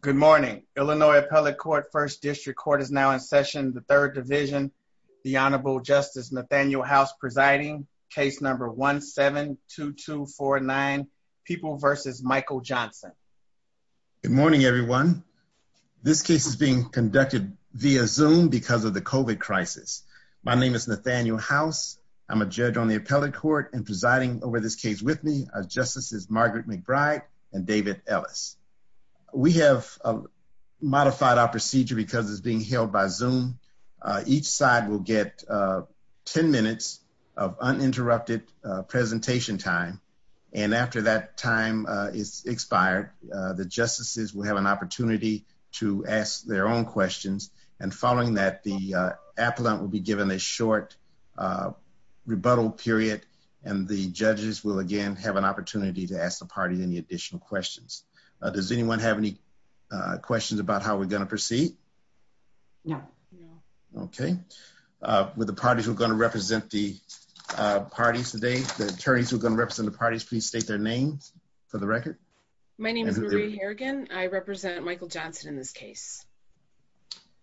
Good morning, Illinois Appellate Court First District Court is now in session the third division the Honorable Justice Nathaniel House presiding case number 17-2249 people versus Michael Johnson Good morning, everyone This case is being conducted via zoom because of the kovat crisis. My name is Nathaniel house I'm a judge on the appellate court and presiding over this case with me. Our justice is Margaret McBride and David Ellis We have Modified our procedure because it's being held by zoom each side will get 10 minutes of uninterrupted presentation time And after that time is expired The justices will have an opportunity to ask their own questions and following that the appellant will be given a short Uh Rebuttal period and the judges will again have an opportunity to ask the party any additional questions Does anyone have any? Uh questions about how we're going to proceed No, no, okay uh with the parties we're going to represent the Uh parties today the attorneys who are going to represent the parties, please state their names for the record My name is Marie Harrigan. I represent Michael Johnson in this case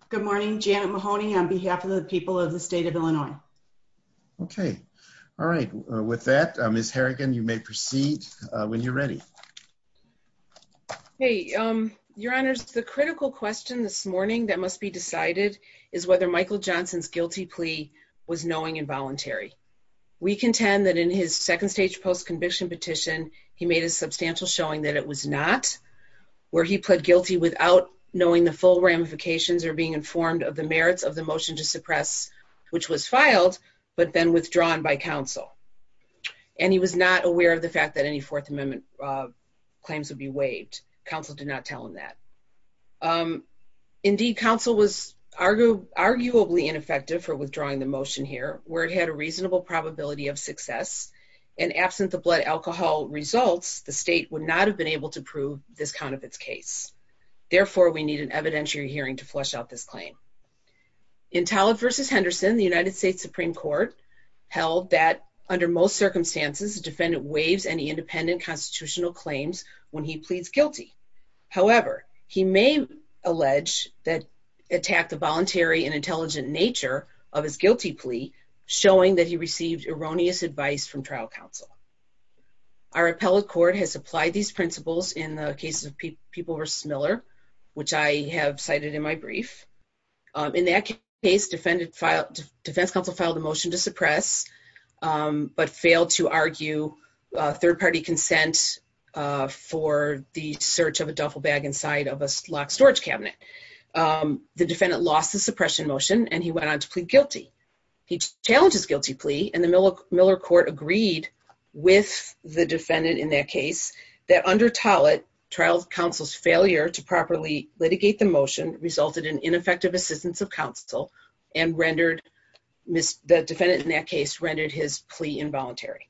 Good morning, Janet Mahoney on behalf of the people of the state of Illinois Okay. All right with that miss Harrigan. You may proceed when you're ready Hey, um your honors the critical question this morning that must be decided is whether Michael Johnson's guilty plea was knowing involuntary We contend that in his second stage post-conviction petition. He made a substantial showing that it was not Where he pled guilty without knowing the full ramifications or being informed of the merits of the motion to suppress Which was filed but then withdrawn by council And he was not aware of the fact that any fourth amendment Claims would be waived council did not tell him that um Indeed council was Arguably ineffective for withdrawing the motion here where it had a reasonable probability of success And absent the blood alcohol results the state would not have been able to prove this count of its case Therefore we need an evidentiary hearing to flush out this claim In tallah versus henderson the united states supreme court Held that under most circumstances the defendant waives any independent constitutional claims when he pleads guilty however, he may Allege that attacked the voluntary and intelligent nature of his guilty plea showing that he received erroneous advice from trial council Our appellate court has applied these principles in the cases of people versus miller, which I have cited in my brief In that case defendant filed defense council filed a motion to suppress um, but failed to argue a third-party consent For the search of a duffel bag inside of a locked storage cabinet The defendant lost the suppression motion and he went on to plead guilty He challenged his guilty plea and the miller miller court agreed With the defendant in that case that under tallit trial council's failure to properly litigate the motion Resulted in ineffective assistance of council and rendered Miss the defendant in that case rendered his plea involuntary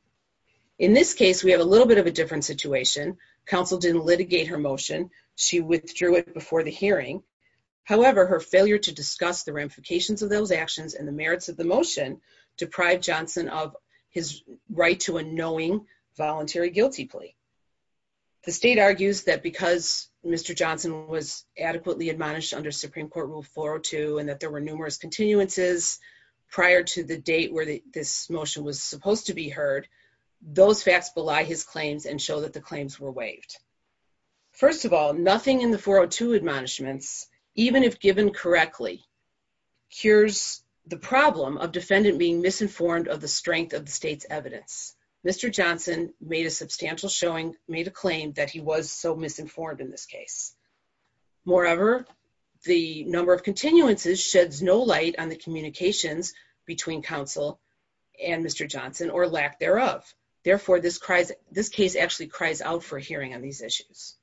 In this case, we have a little bit of a different situation council didn't litigate her motion. She withdrew it before the hearing However, her failure to discuss the ramifications of those actions and the merits of the motion deprive johnson of his right to a knowing voluntary guilty plea The state argues that because mr Johnson was adequately admonished under supreme court rule 402 and that there were numerous continuances Prior to the date where this motion was supposed to be heard Those facts belie his claims and show that the claims were waived First of all nothing in the 402 admonishments Even if given correctly Cures the problem of defendant being misinformed of the strength of the state's evidence Mr. Johnson made a substantial showing made a claim that he was so misinformed in this case moreover The number of continuances sheds no light on the communications between council And mr. Johnson or lack thereof therefore this cries this case actually cries out for hearing on these issues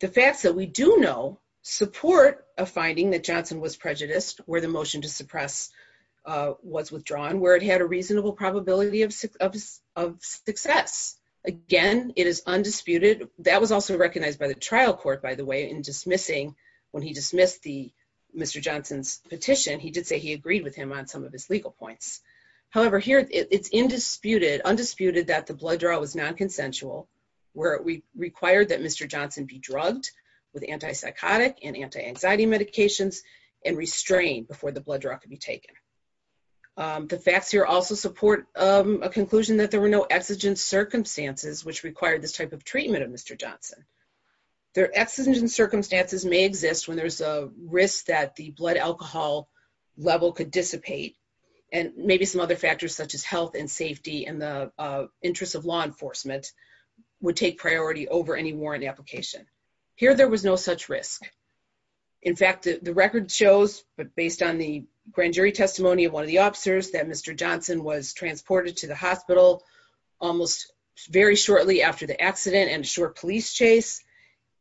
The facts that we do know support a finding that johnson was prejudiced where the motion to suppress Uh was withdrawn where it had a reasonable probability of of success Again, it is undisputed that was also recognized by the trial court by the way in dismissing when he dismissed the Mr. Johnson's petition. He did say he agreed with him on some of his legal points However here it's indisputed undisputed that the blood draw was non-consensual Where we required that? Mr. Johnson be drugged with anti-psychotic and anti-anxiety medications And restrained before the blood draw could be taken The facts here also support a conclusion that there were no exigent circumstances which required this type of treatment of mr. Johnson Their exigent circumstances may exist when there's a risk that the blood alcohol level could dissipate and maybe some other factors such as health and safety and the interest of law enforcement Would take priority over any warrant application here. There was no such risk In fact the record shows but based on the grand jury testimony of one of the officers that mr. Johnson was transported to the hospital almost Very shortly after the accident and a short police chase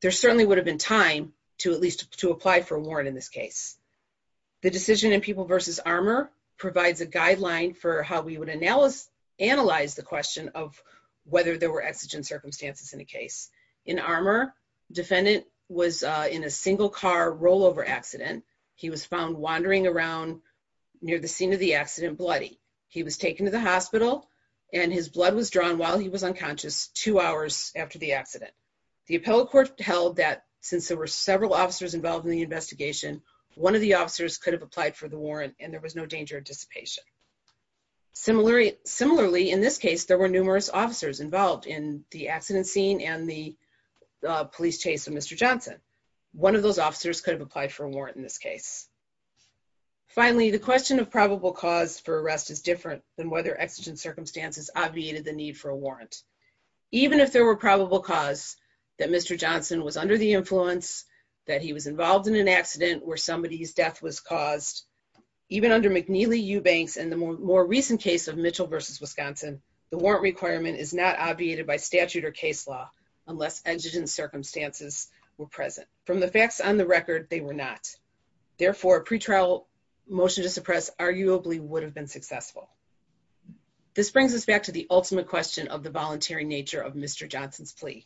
There certainly would have been time to at least to apply for a warrant in this case the decision in people versus armor provides a guideline for how we would Analyze the question of whether there were exigent circumstances in a case in armor Defendant was in a single car rollover accident. He was found wandering around Near the scene of the accident bloody he was taken to the hospital And his blood was drawn while he was unconscious two hours after the accident The appellate court held that since there were several officers involved in the investigation One of the officers could have applied for the warrant and there was no danger of dissipation similarly similarly in this case, there were numerous officers involved in the accident scene and the Police chase of mr. Johnson. One of those officers could have applied for a warrant in this case Finally the question of probable cause for arrest is different than whether exigent circumstances obviated the need for a warrant Even if there were probable cause that mr Johnson was under the influence that he was involved in an accident where somebody's death was caused Even under mcneely eubanks and the more recent case of mitchell versus wisconsin The warrant requirement is not obviated by statute or case law unless exigent circumstances were present from the facts on the record They were not therefore pretrial Motion to suppress arguably would have been successful This brings us back to the ultimate question of the voluntary nature of mr. Johnson's plea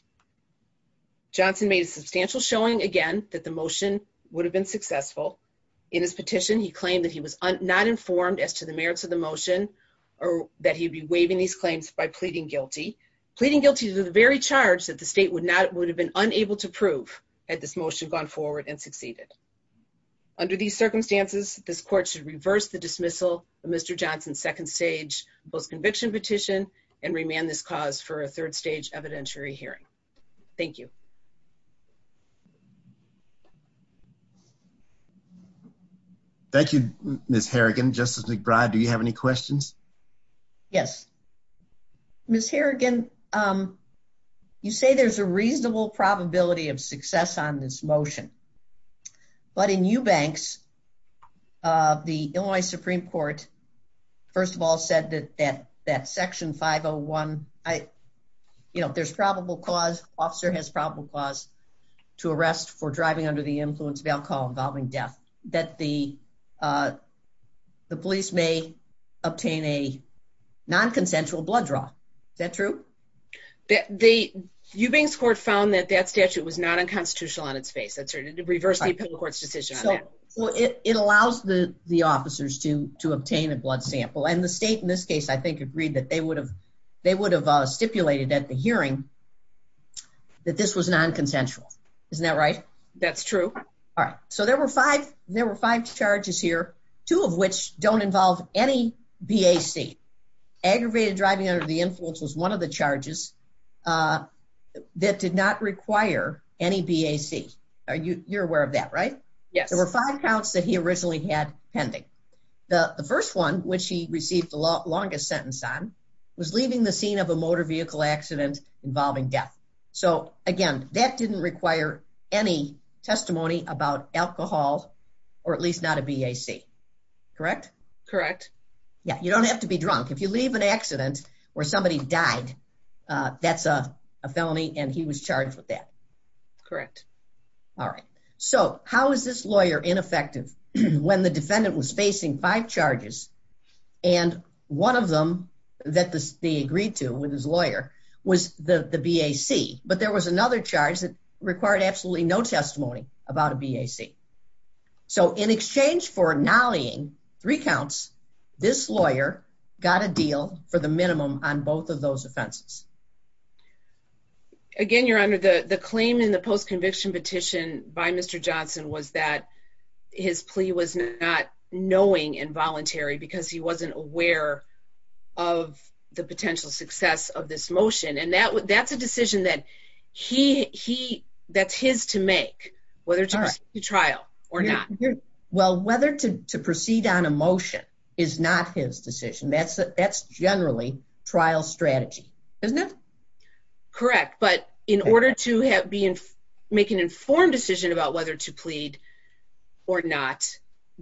Johnson made a substantial showing again that the motion would have been successful In his petition he claimed that he was not informed as to the merits of the motion Or that he'd be waiving these claims by pleading guilty Pleading guilty to the very charge that the state would not would have been unable to prove had this motion gone forward and succeeded Under these circumstances this court should reverse the dismissal of mr Johnson's second stage post conviction petition and remand this cause for a third stage evidentiary hearing Thank you Thank you Thank you, miss harrigan justice mcbride, do you have any questions yes Miss harrigan. Um You say there's a reasonable probability of success on this motion but in eubanks uh, the illinois supreme court first of all said that that that section 501 I You know, there's probable cause officer has probable cause to arrest for driving under the influence of alcohol involving death that the uh the police may obtain a Non-consensual blood draw. Is that true? That the eubanks court found that that statute was not unconstitutional on its face. That's right. It reversed the appeal court's decision Well, it it allows the the officers to to obtain a blood sample and the state in this case I think agreed that they would have they would have uh stipulated at the hearing That this was non-consensual, isn't that right? That's true All right. So there were five there were five charges here two of which don't involve any bac Aggravated driving under the influence was one of the charges uh That did not require any bac. Are you you're aware of that, right? Yes There were five counts that he originally had pending The the first one which he received the longest sentence on Was leaving the scene of a motor vehicle accident involving death. So again that didn't require any testimony about alcohol Or at least not a bac Correct, correct. Yeah, you don't have to be drunk if you leave an accident where somebody died Uh, that's a felony and he was charged with that correct All right, so how is this lawyer ineffective when the defendant was facing five charges and One of them that they agreed to with his lawyer was the the bac But there was another charge that required absolutely no testimony about a bac So in exchange for nollying three counts this lawyer got a deal for the minimum on both of those offenses Again your honor the the claim in the post-conviction petition by mr. Johnson was that His plea was not knowing involuntary because he wasn't aware of The potential success of this motion and that that's a decision that He he that's his to make whether it's a trial or not Well, whether to to proceed on a motion is not his decision. That's that's generally trial strategy Isn't it Correct, but in order to have be in make an informed decision about whether to plead or not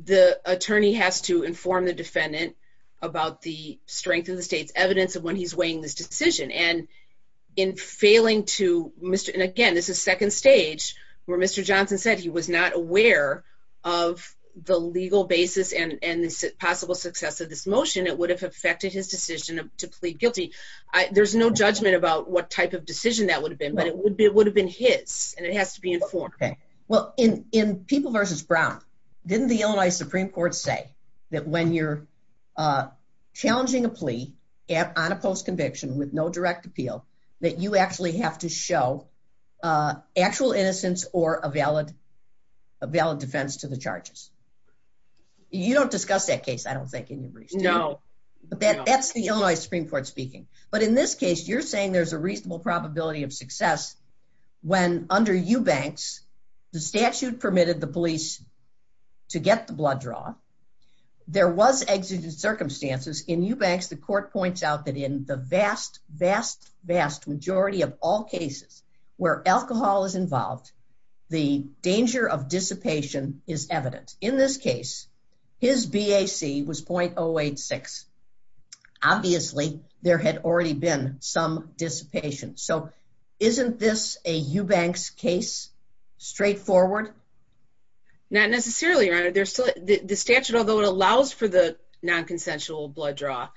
the attorney has to inform the defendant about the strength of the state's evidence of when he's weighing this decision and In failing to mr. And again, this is second stage where mr. Johnson said he was not aware Of the legal basis and and the possible success of this motion It would have affected his decision to plead guilty I there's no judgment about what type of decision that would have been but it would be it would have been his And it has to be informed. Okay. Well in in people versus brown didn't the illinois supreme court say that when you're Challenging a plea at on a post conviction with no direct appeal that you actually have to show uh actual innocence or a valid a valid defense to the charges You don't discuss that case I don't think in your brief no But that that's the illinois supreme court speaking. But in this case you're saying there's a reasonable probability of success when under eubanks the statute permitted the police to get the blood draw There was exigent circumstances in eubanks The court points out that in the vast vast vast majority of all cases where alcohol is involved The danger of dissipation is evident in this case His bac was 0.086 Obviously there had already been some dissipation so isn't this a eubanks case straightforward Not necessarily right. There's still the statute although it allows for the non-consensual blood draw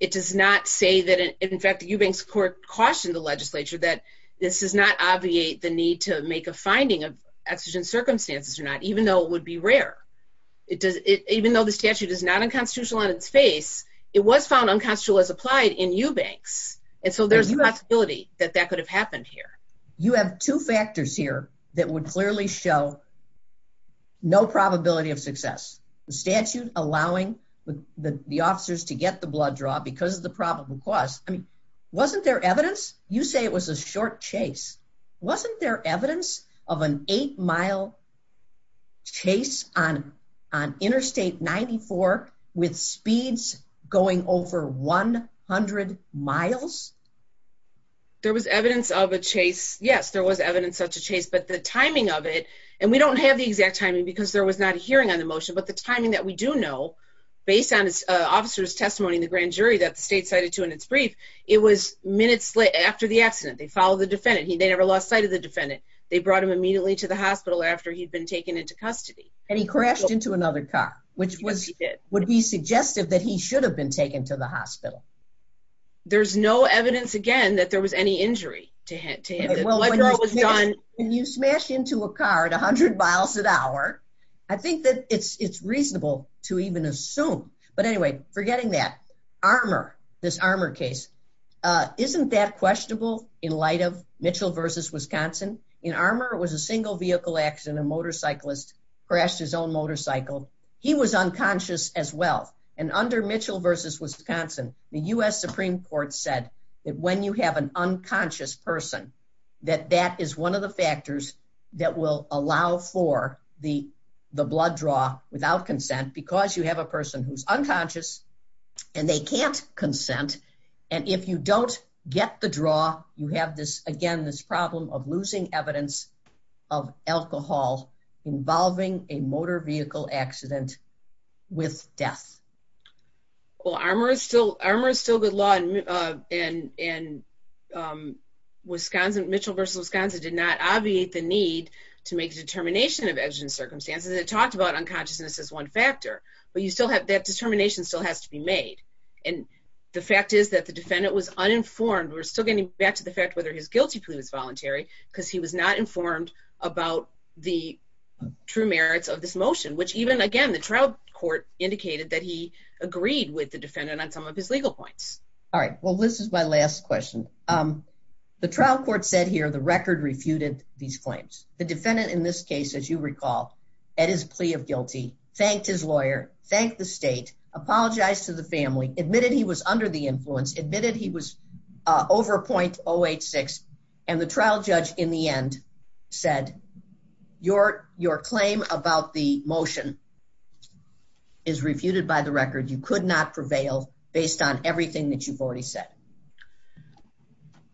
It does not say that in fact the eubanks court cautioned the legislature that This does not obviate the need to make a finding of exigent circumstances or not, even though it would be rare It does it even though the statute is not unconstitutional on its face It was found unconstitutional as applied in eubanks. And so there's a possibility that that could have happened here You have two factors here that would clearly show No probability of success the statute allowing The the officers to get the blood draw because of the probable cause I mean wasn't there evidence you say it was a short chase Wasn't there evidence of an eight mile? Chase on on interstate 94 with speeds going over 100 miles There was evidence of a chase Yes, there was evidence such a chase but the timing of it And we don't have the exact timing because there was not a hearing on the motion But the timing that we do know Based on his officer's testimony in the grand jury that the state cited to in its brief It was minutes late after the accident. They followed the defendant. They never lost sight of the defendant They brought him immediately to the hospital after he'd been taken into custody and he crashed into another car Which was he did would be suggestive that he should have been taken to the hospital There's no evidence again that there was any injury to him When you smash into a car at 100 miles an hour I think that it's it's reasonable to even assume but anyway forgetting that armor this armor case Uh, isn't that questionable in light of mitchell versus wisconsin in armor? It was a single vehicle accident a motorcyclist Crashed his own motorcycle He was unconscious as well and under mitchell versus wisconsin the u.s Supreme court said that when you have an unconscious person That that is one of the factors that will allow for the the blood draw without consent Because you have a person who's unconscious And they can't consent and if you don't get the draw you have this again this problem of losing evidence of alcohol Involving a motor vehicle accident with death well armor is still armor is still good law and uh, and and um Wisconsin mitchell versus wisconsin did not obviate the need to make a determination of evidence circumstances It talked about unconsciousness as one factor, but you still have that determination still has to be made And the fact is that the defendant was uninformed We're still getting back to the fact whether his guilty plea was voluntary because he was not informed about the True merits of this motion, which even again the trial court indicated that he agreed with the defendant on some of his legal points All right. Well, this is my last question. Um The trial court said here the record refuted these claims the defendant in this case as you recall At his plea of guilty thanked his lawyer thanked the state apologized to the family admitted. He was under the influence admitted. He was Uh over 0.086 and the trial judge in the end said Your your claim about the motion Is refuted by the record you could not prevail based on everything that you've already said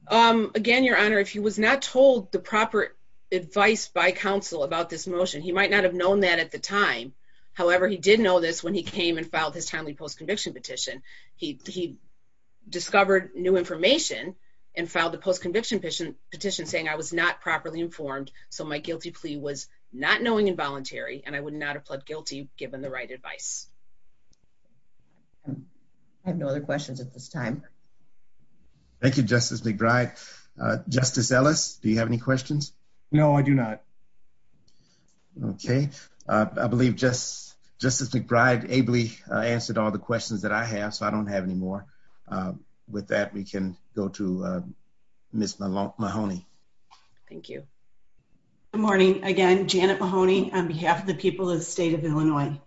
Um again your honor if he was not told the proper Advice by counsel about this motion. He might not have known that at the time however, he did know this when he came and filed his timely post-conviction petition he Discovered new information And filed the post-conviction petition petition saying I was not properly informed So my guilty plea was not knowing involuntary and I would not have pled guilty given the right advice I have no other questions at this time Thank you, justice mcbride, uh, justice ellis. Do you have any questions? No, I do not Okay, uh, I believe just Justice mcbride ably answered all the questions that I have so I don't have any more with that we can go to uh miss Mahoney Thank you Good morning again. Janet mahoney on behalf of the people of the state of illinois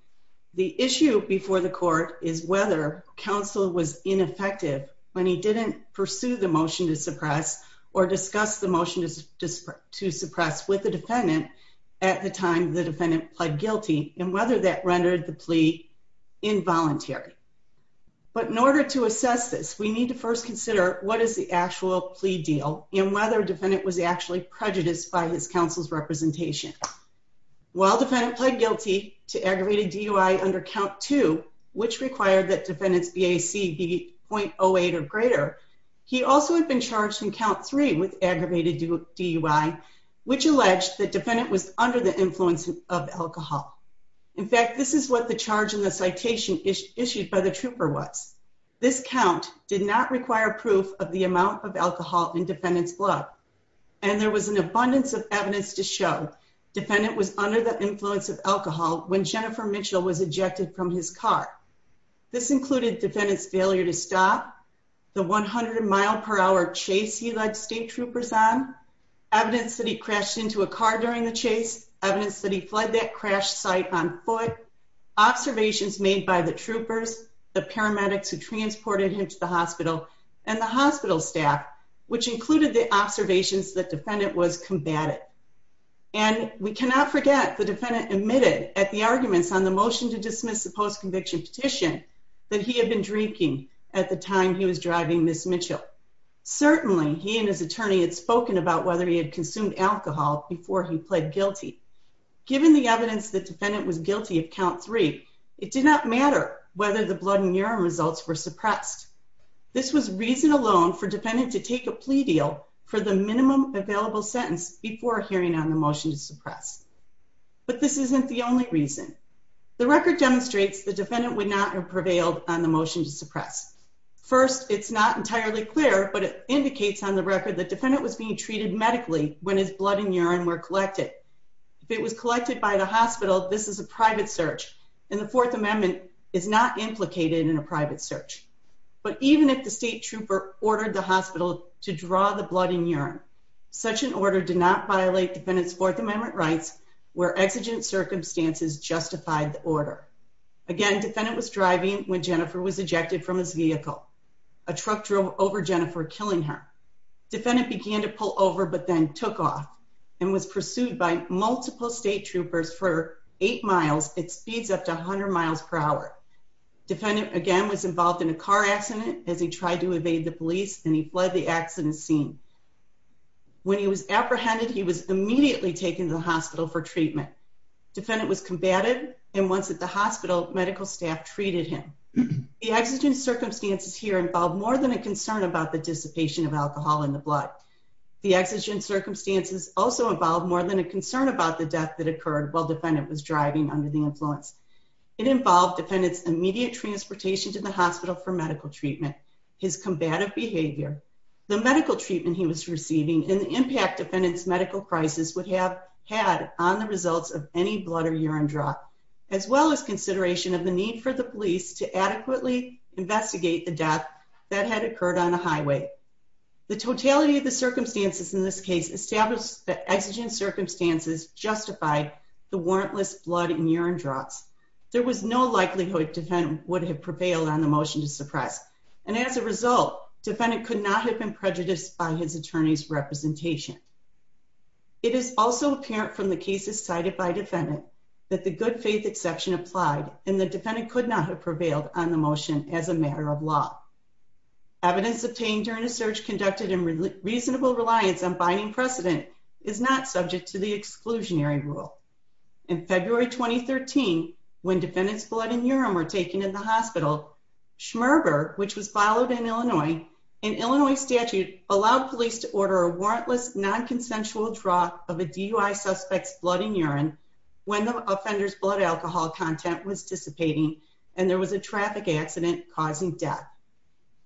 The issue before the court is whether counsel was ineffective when he didn't pursue the motion to suppress Or discuss the motion to suppress with the defendant At the time the defendant pled guilty and whether that rendered the plea involuntary But in order to assess this we need to first consider What is the actual plea deal and whether defendant was actually prejudiced by his counsel's representation? While defendant pled guilty to aggravated dui under count two which required that defendant's bac be 0.08 or greater He also had been charged in count three with aggravated dui Which alleged the defendant was under the influence of alcohol? In fact, this is what the charge in the citation is issued by the trooper was This count did not require proof of the amount of alcohol in defendant's blood And there was an abundance of evidence to show defendant was under the influence of alcohol when jennifer mitchell was ejected from his car This included defendant's failure to stop The 100 mile per hour chase he led state troopers on Evidence that he crashed into a car during the chase evidence that he fled that crash site on foot Observations made by the troopers the paramedics who transported him to the hospital and the hospital staff Which included the observations the defendant was combative And we cannot forget the defendant admitted at the arguments on the motion to dismiss the post-conviction petition That he had been drinking at the time. He was driving miss mitchell Certainly, he and his attorney had spoken about whether he had consumed alcohol before he pled guilty Given the evidence the defendant was guilty of count three. It did not matter whether the blood and urine results were suppressed This was reason alone for defendant to take a plea deal for the minimum available sentence before hearing on the motion to suppress But this isn't the only reason The record demonstrates the defendant would not have prevailed on the motion to suppress First it's not entirely clear But it indicates on the record the defendant was being treated medically when his blood and urine were collected If it was collected by the hospital, this is a private search and the fourth amendment is not implicated in a private search But even if the state trooper ordered the hospital to draw the blood and urine Such an order did not violate defendant's fourth amendment rights where exigent circumstances justified the order Again defendant was driving when jennifer was ejected from his vehicle A truck drove over jennifer killing her Defendant began to pull over but then took off and was pursued by multiple state troopers for eight miles It speeds up to 100 miles per hour Defendant again was involved in a car accident as he tried to evade the police and he fled the accident scene When he was apprehended he was immediately taken to the hospital for treatment Defendant was combated and once at the hospital medical staff treated him The exigent circumstances here involved more than a concern about the dissipation of alcohol in the blood The exigent circumstances also involved more than a concern about the death that occurred while defendant was driving under the influence It involved defendant's immediate transportation to the hospital for medical treatment his combative behavior The medical treatment he was receiving and the impact defendant's medical crisis would have had on the results of any blood or urine draw As well as consideration of the need for the police to adequately investigate the death that had occurred on a highway The totality of the circumstances in this case established that exigent circumstances justified the warrantless blood and urine drops There was no likelihood defendant would have prevailed on the motion to suppress And as a result defendant could not have been prejudiced by his attorney's representation It is also apparent from the cases cited by defendant That the good faith exception applied and the defendant could not have prevailed on the motion as a matter of law Evidence obtained during a search conducted in reasonable reliance on binding precedent is not subject to the exclusionary rule In february 2013 when defendant's blood and urine were taken in the hospital Schmerber, which was followed in illinois in illinois statute allowed police to order a warrantless non-consensual draw of a DUI suspect's blood and urine When the offender's blood alcohol content was dissipating and there was a traffic accident causing death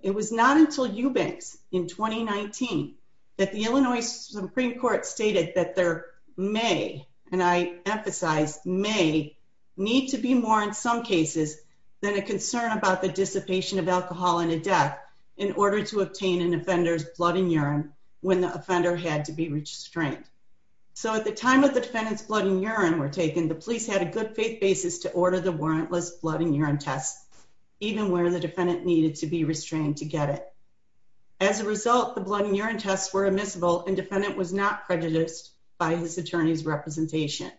It was not until Eubanks in 2019 That the illinois supreme court stated that there may and I emphasize may Need to be more in some cases than a concern about the dissipation of alcohol in a death In order to obtain an offender's blood and urine when the offender had to be restrained So at the time of the defendant's blood and urine were taken the police had a good faith basis to order the warrantless blood and urine tests Even where the defendant needed to be restrained to get it As a result the blood and urine tests were admissible and defendant was not prejudiced by his attorney's representation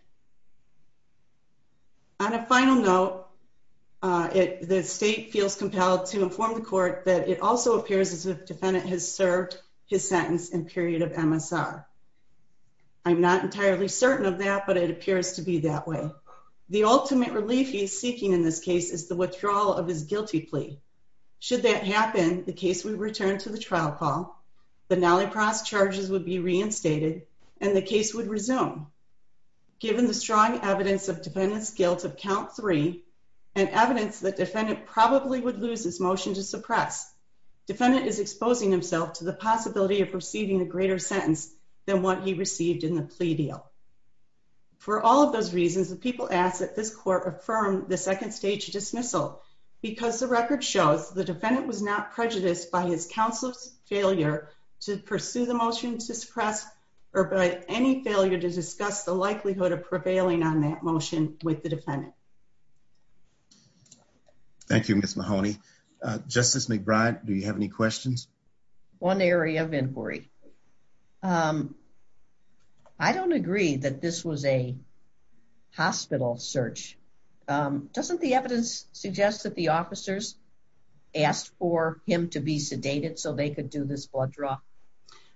On a final note Uh it the state feels compelled to inform the court that it also appears as if defendant has served his sentence in period of msr I'm, not entirely certain of that, but it appears to be that way The ultimate relief he's seeking in this case is the withdrawal of his guilty plea Should that happen the case would return to the trial call The nallypras charges would be reinstated and the case would resume Given the strong evidence of defendant's guilt of count three And evidence that defendant probably would lose his motion to suppress Defendant is exposing himself to the possibility of receiving a greater sentence than what he received in the plea deal For all of those reasons the people ask that this court affirm the second stage dismissal Because the record shows the defendant was not prejudiced by his counsel's failure to pursue the motion to suppress Or by any failure to discuss the likelihood of prevailing on that motion with the defendant Thank you, miss mahoney, uh justice mcbride, do you have any questions one area of inquiry um I don't agree that this was a hospital search Um, doesn't the evidence suggest that the officers? Asked for him to be sedated so they could do this blood draw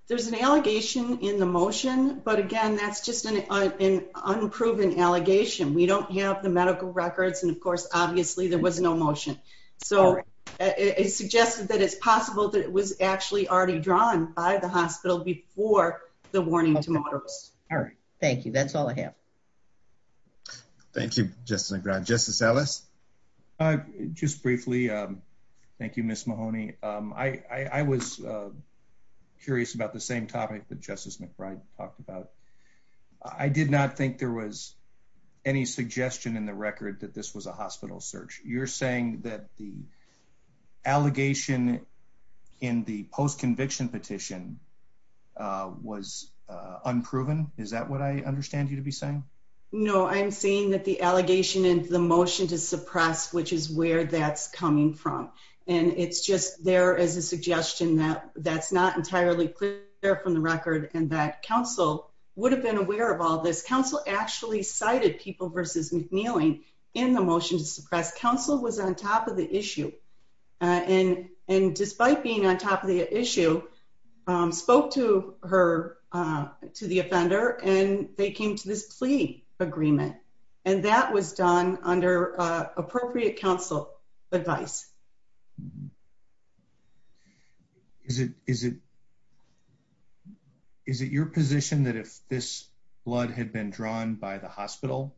There's an allegation in the motion, but again, that's just an Unproven allegation. We don't have the medical records. And of course, obviously there was no motion so It suggested that it's possible that it was actually already drawn by the hospital before the warning tomorrow All right. Thank you. That's all I have Thank you, justin mcbride justice ellis uh, just briefly, um, thank you, miss mahoney, um, I I was curious about the same topic that justice mcbride talked about I did not think there was any suggestion in the record that this was a hospital search you're saying that the allegation in the post-conviction petition uh was Unproven, is that what I understand you to be saying? No, i'm saying that the allegation and the motion to suppress which is where that's coming from And it's just there as a suggestion that that's not entirely clear from the record and that council Would have been aware of all this council actually cited people versus mcneeling in the motion to suppress council was on top of the issue And and despite being on top of the issue Um spoke to her To the offender and they came to this plea agreement and that was done under appropriate council advice Is it is it Is it your position that if this blood had been drawn by the hospital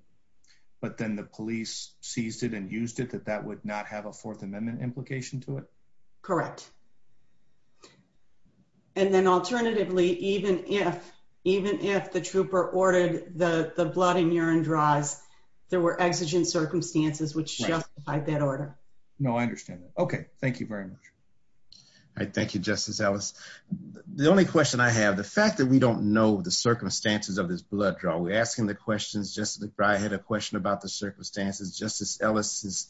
But then the police seized it and used it that that would not have a fourth amendment implication to it, correct And then alternatively even if Even if the trooper ordered the the blood and urine draws There were exigent circumstances which justified that order. No, I understand that. Okay. Thank you very much All right. Thank you. Justice. Ellis The only question I have the fact that we don't know the circumstances of this blood draw We're asking the questions. Just look right ahead a question about the circumstances justice ellis's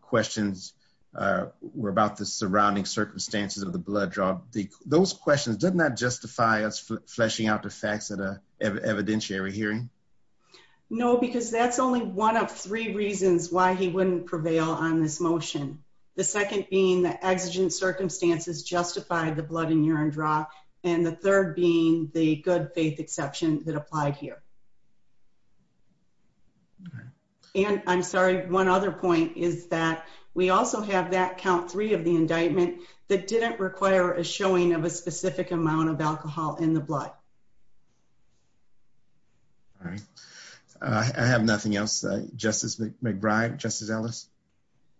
questions Uh were about the surrounding circumstances of the blood draw Those questions did not justify us fleshing out the facts at a evidentiary hearing No, because that's only one of three reasons why he wouldn't prevail on this motion The second being the exigent circumstances justified the blood and urine draw And the third being the good faith exception that applied here And i'm sorry one other point is that We also have that count three of the indictment that didn't require a showing of a specific amount of alcohol in the blood All right I have nothing else. Uh, justice mcbride justice ellis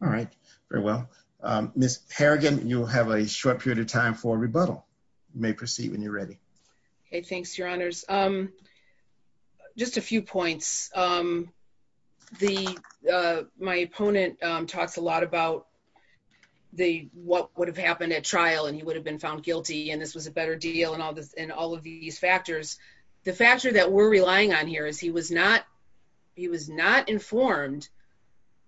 All right, very well, um, miss harrigan. You'll have a short period of time for rebuttal. You may proceed when you're ready Okay. Thanks your honors. Um Just a few points. Um the uh, my opponent, um talks a lot about The what would have happened at trial and he would have been found guilty And this was a better deal and all this and all of these factors The factor that we're relying on here is he was not He was not informed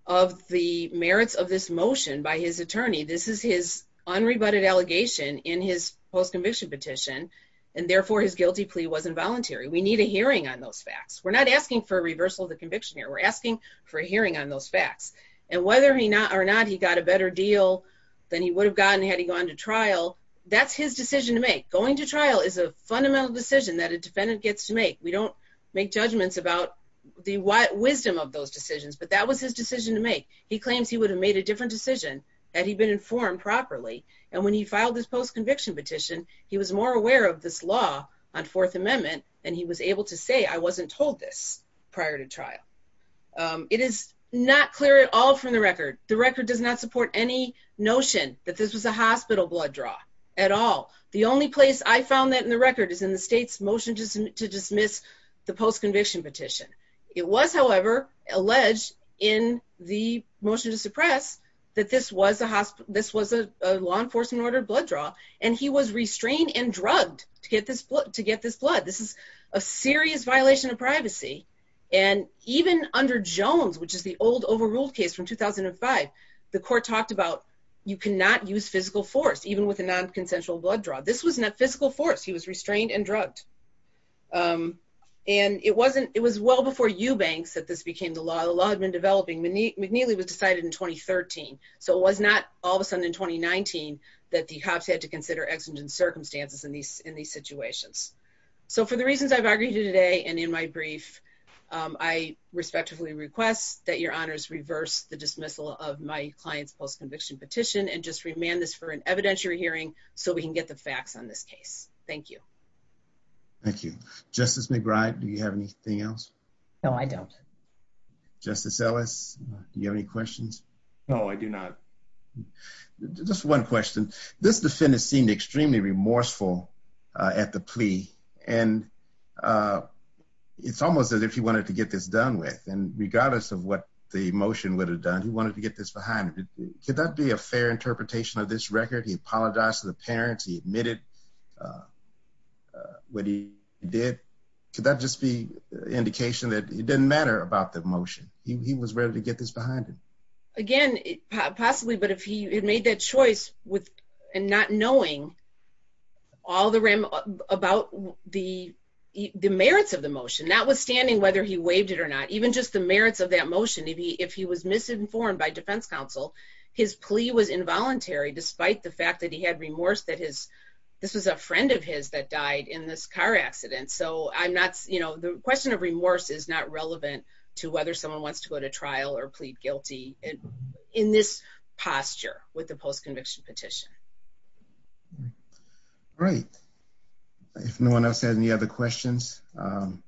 Of the merits of this motion by his attorney. This is his unrebutted allegation in his post-conviction petition And therefore his guilty plea was involuntary. We need a hearing on those facts We're not asking for a reversal of the conviction here We're asking for a hearing on those facts and whether he not or not he got a better deal Than he would have gotten had he gone to trial That's his decision to make going to trial is a fundamental decision that a defendant gets to make we don't Make judgments about the wisdom of those decisions, but that was his decision to make he claims He would have made a different decision had he been informed properly and when he filed this post-conviction petition He was more aware of this law on fourth amendment and he was able to say I wasn't told this prior to trial It is not clear at all from the record the record does not support any Notion that this was a hospital blood draw at all The only place I found that in the record is in the state's motion to dismiss the post-conviction petition It was however alleged in the motion to suppress that this was a hospital This was a law enforcement order blood draw and he was restrained and drugged to get this blood to get this blood This is a serious violation of privacy And even under jones, which is the old overruled case from 2005 The court talked about you cannot use physical force even with a non-consensual blood draw. This was not physical force He was restrained and drugged um And it wasn't it was well before eubanks that this became the law the law had been developing McNeely was decided in 2013 So it was not all of a sudden in 2019 that the cops had to consider exigent circumstances in these in these situations So for the reasons i've argued today and in my brief I respectfully request that your honors reverse the dismissal of my client's post-conviction petition and just remand this for an evidentiary hearing So we can get the facts on this case. Thank you Thank you, justice. McBride. Do you have anything else? No, I don't Justice ellis. Do you have any questions? No, I do not Just one question this defendant seemed extremely remorseful Uh at the plea and uh It's almost as if he wanted to get this done with and regardless of what the motion would have done He wanted to get this behind him. Could that be a fair interpretation of this record? He apologized to the parents he admitted What he did could that just be Indication that it didn't matter about the motion. He was ready to get this behind him again Possibly but if he had made that choice with and not knowing All the ram about the The merits of the motion notwithstanding whether he waived it or not Even just the merits of that motion if he if he was misinformed by defense counsel his plea was involuntary despite the fact that he had remorse that his This was a friend of his that died in this car accident So i'm not you know The question of remorse is not relevant to whether someone wants to go to trial or plead guilty in this posture with the post-conviction petition All right, if no one else has any other questions, um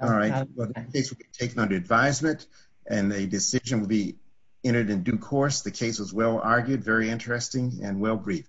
All right The case will be taken under advisement and the decision will be Entered in due course. The case was well argued very interesting and well briefed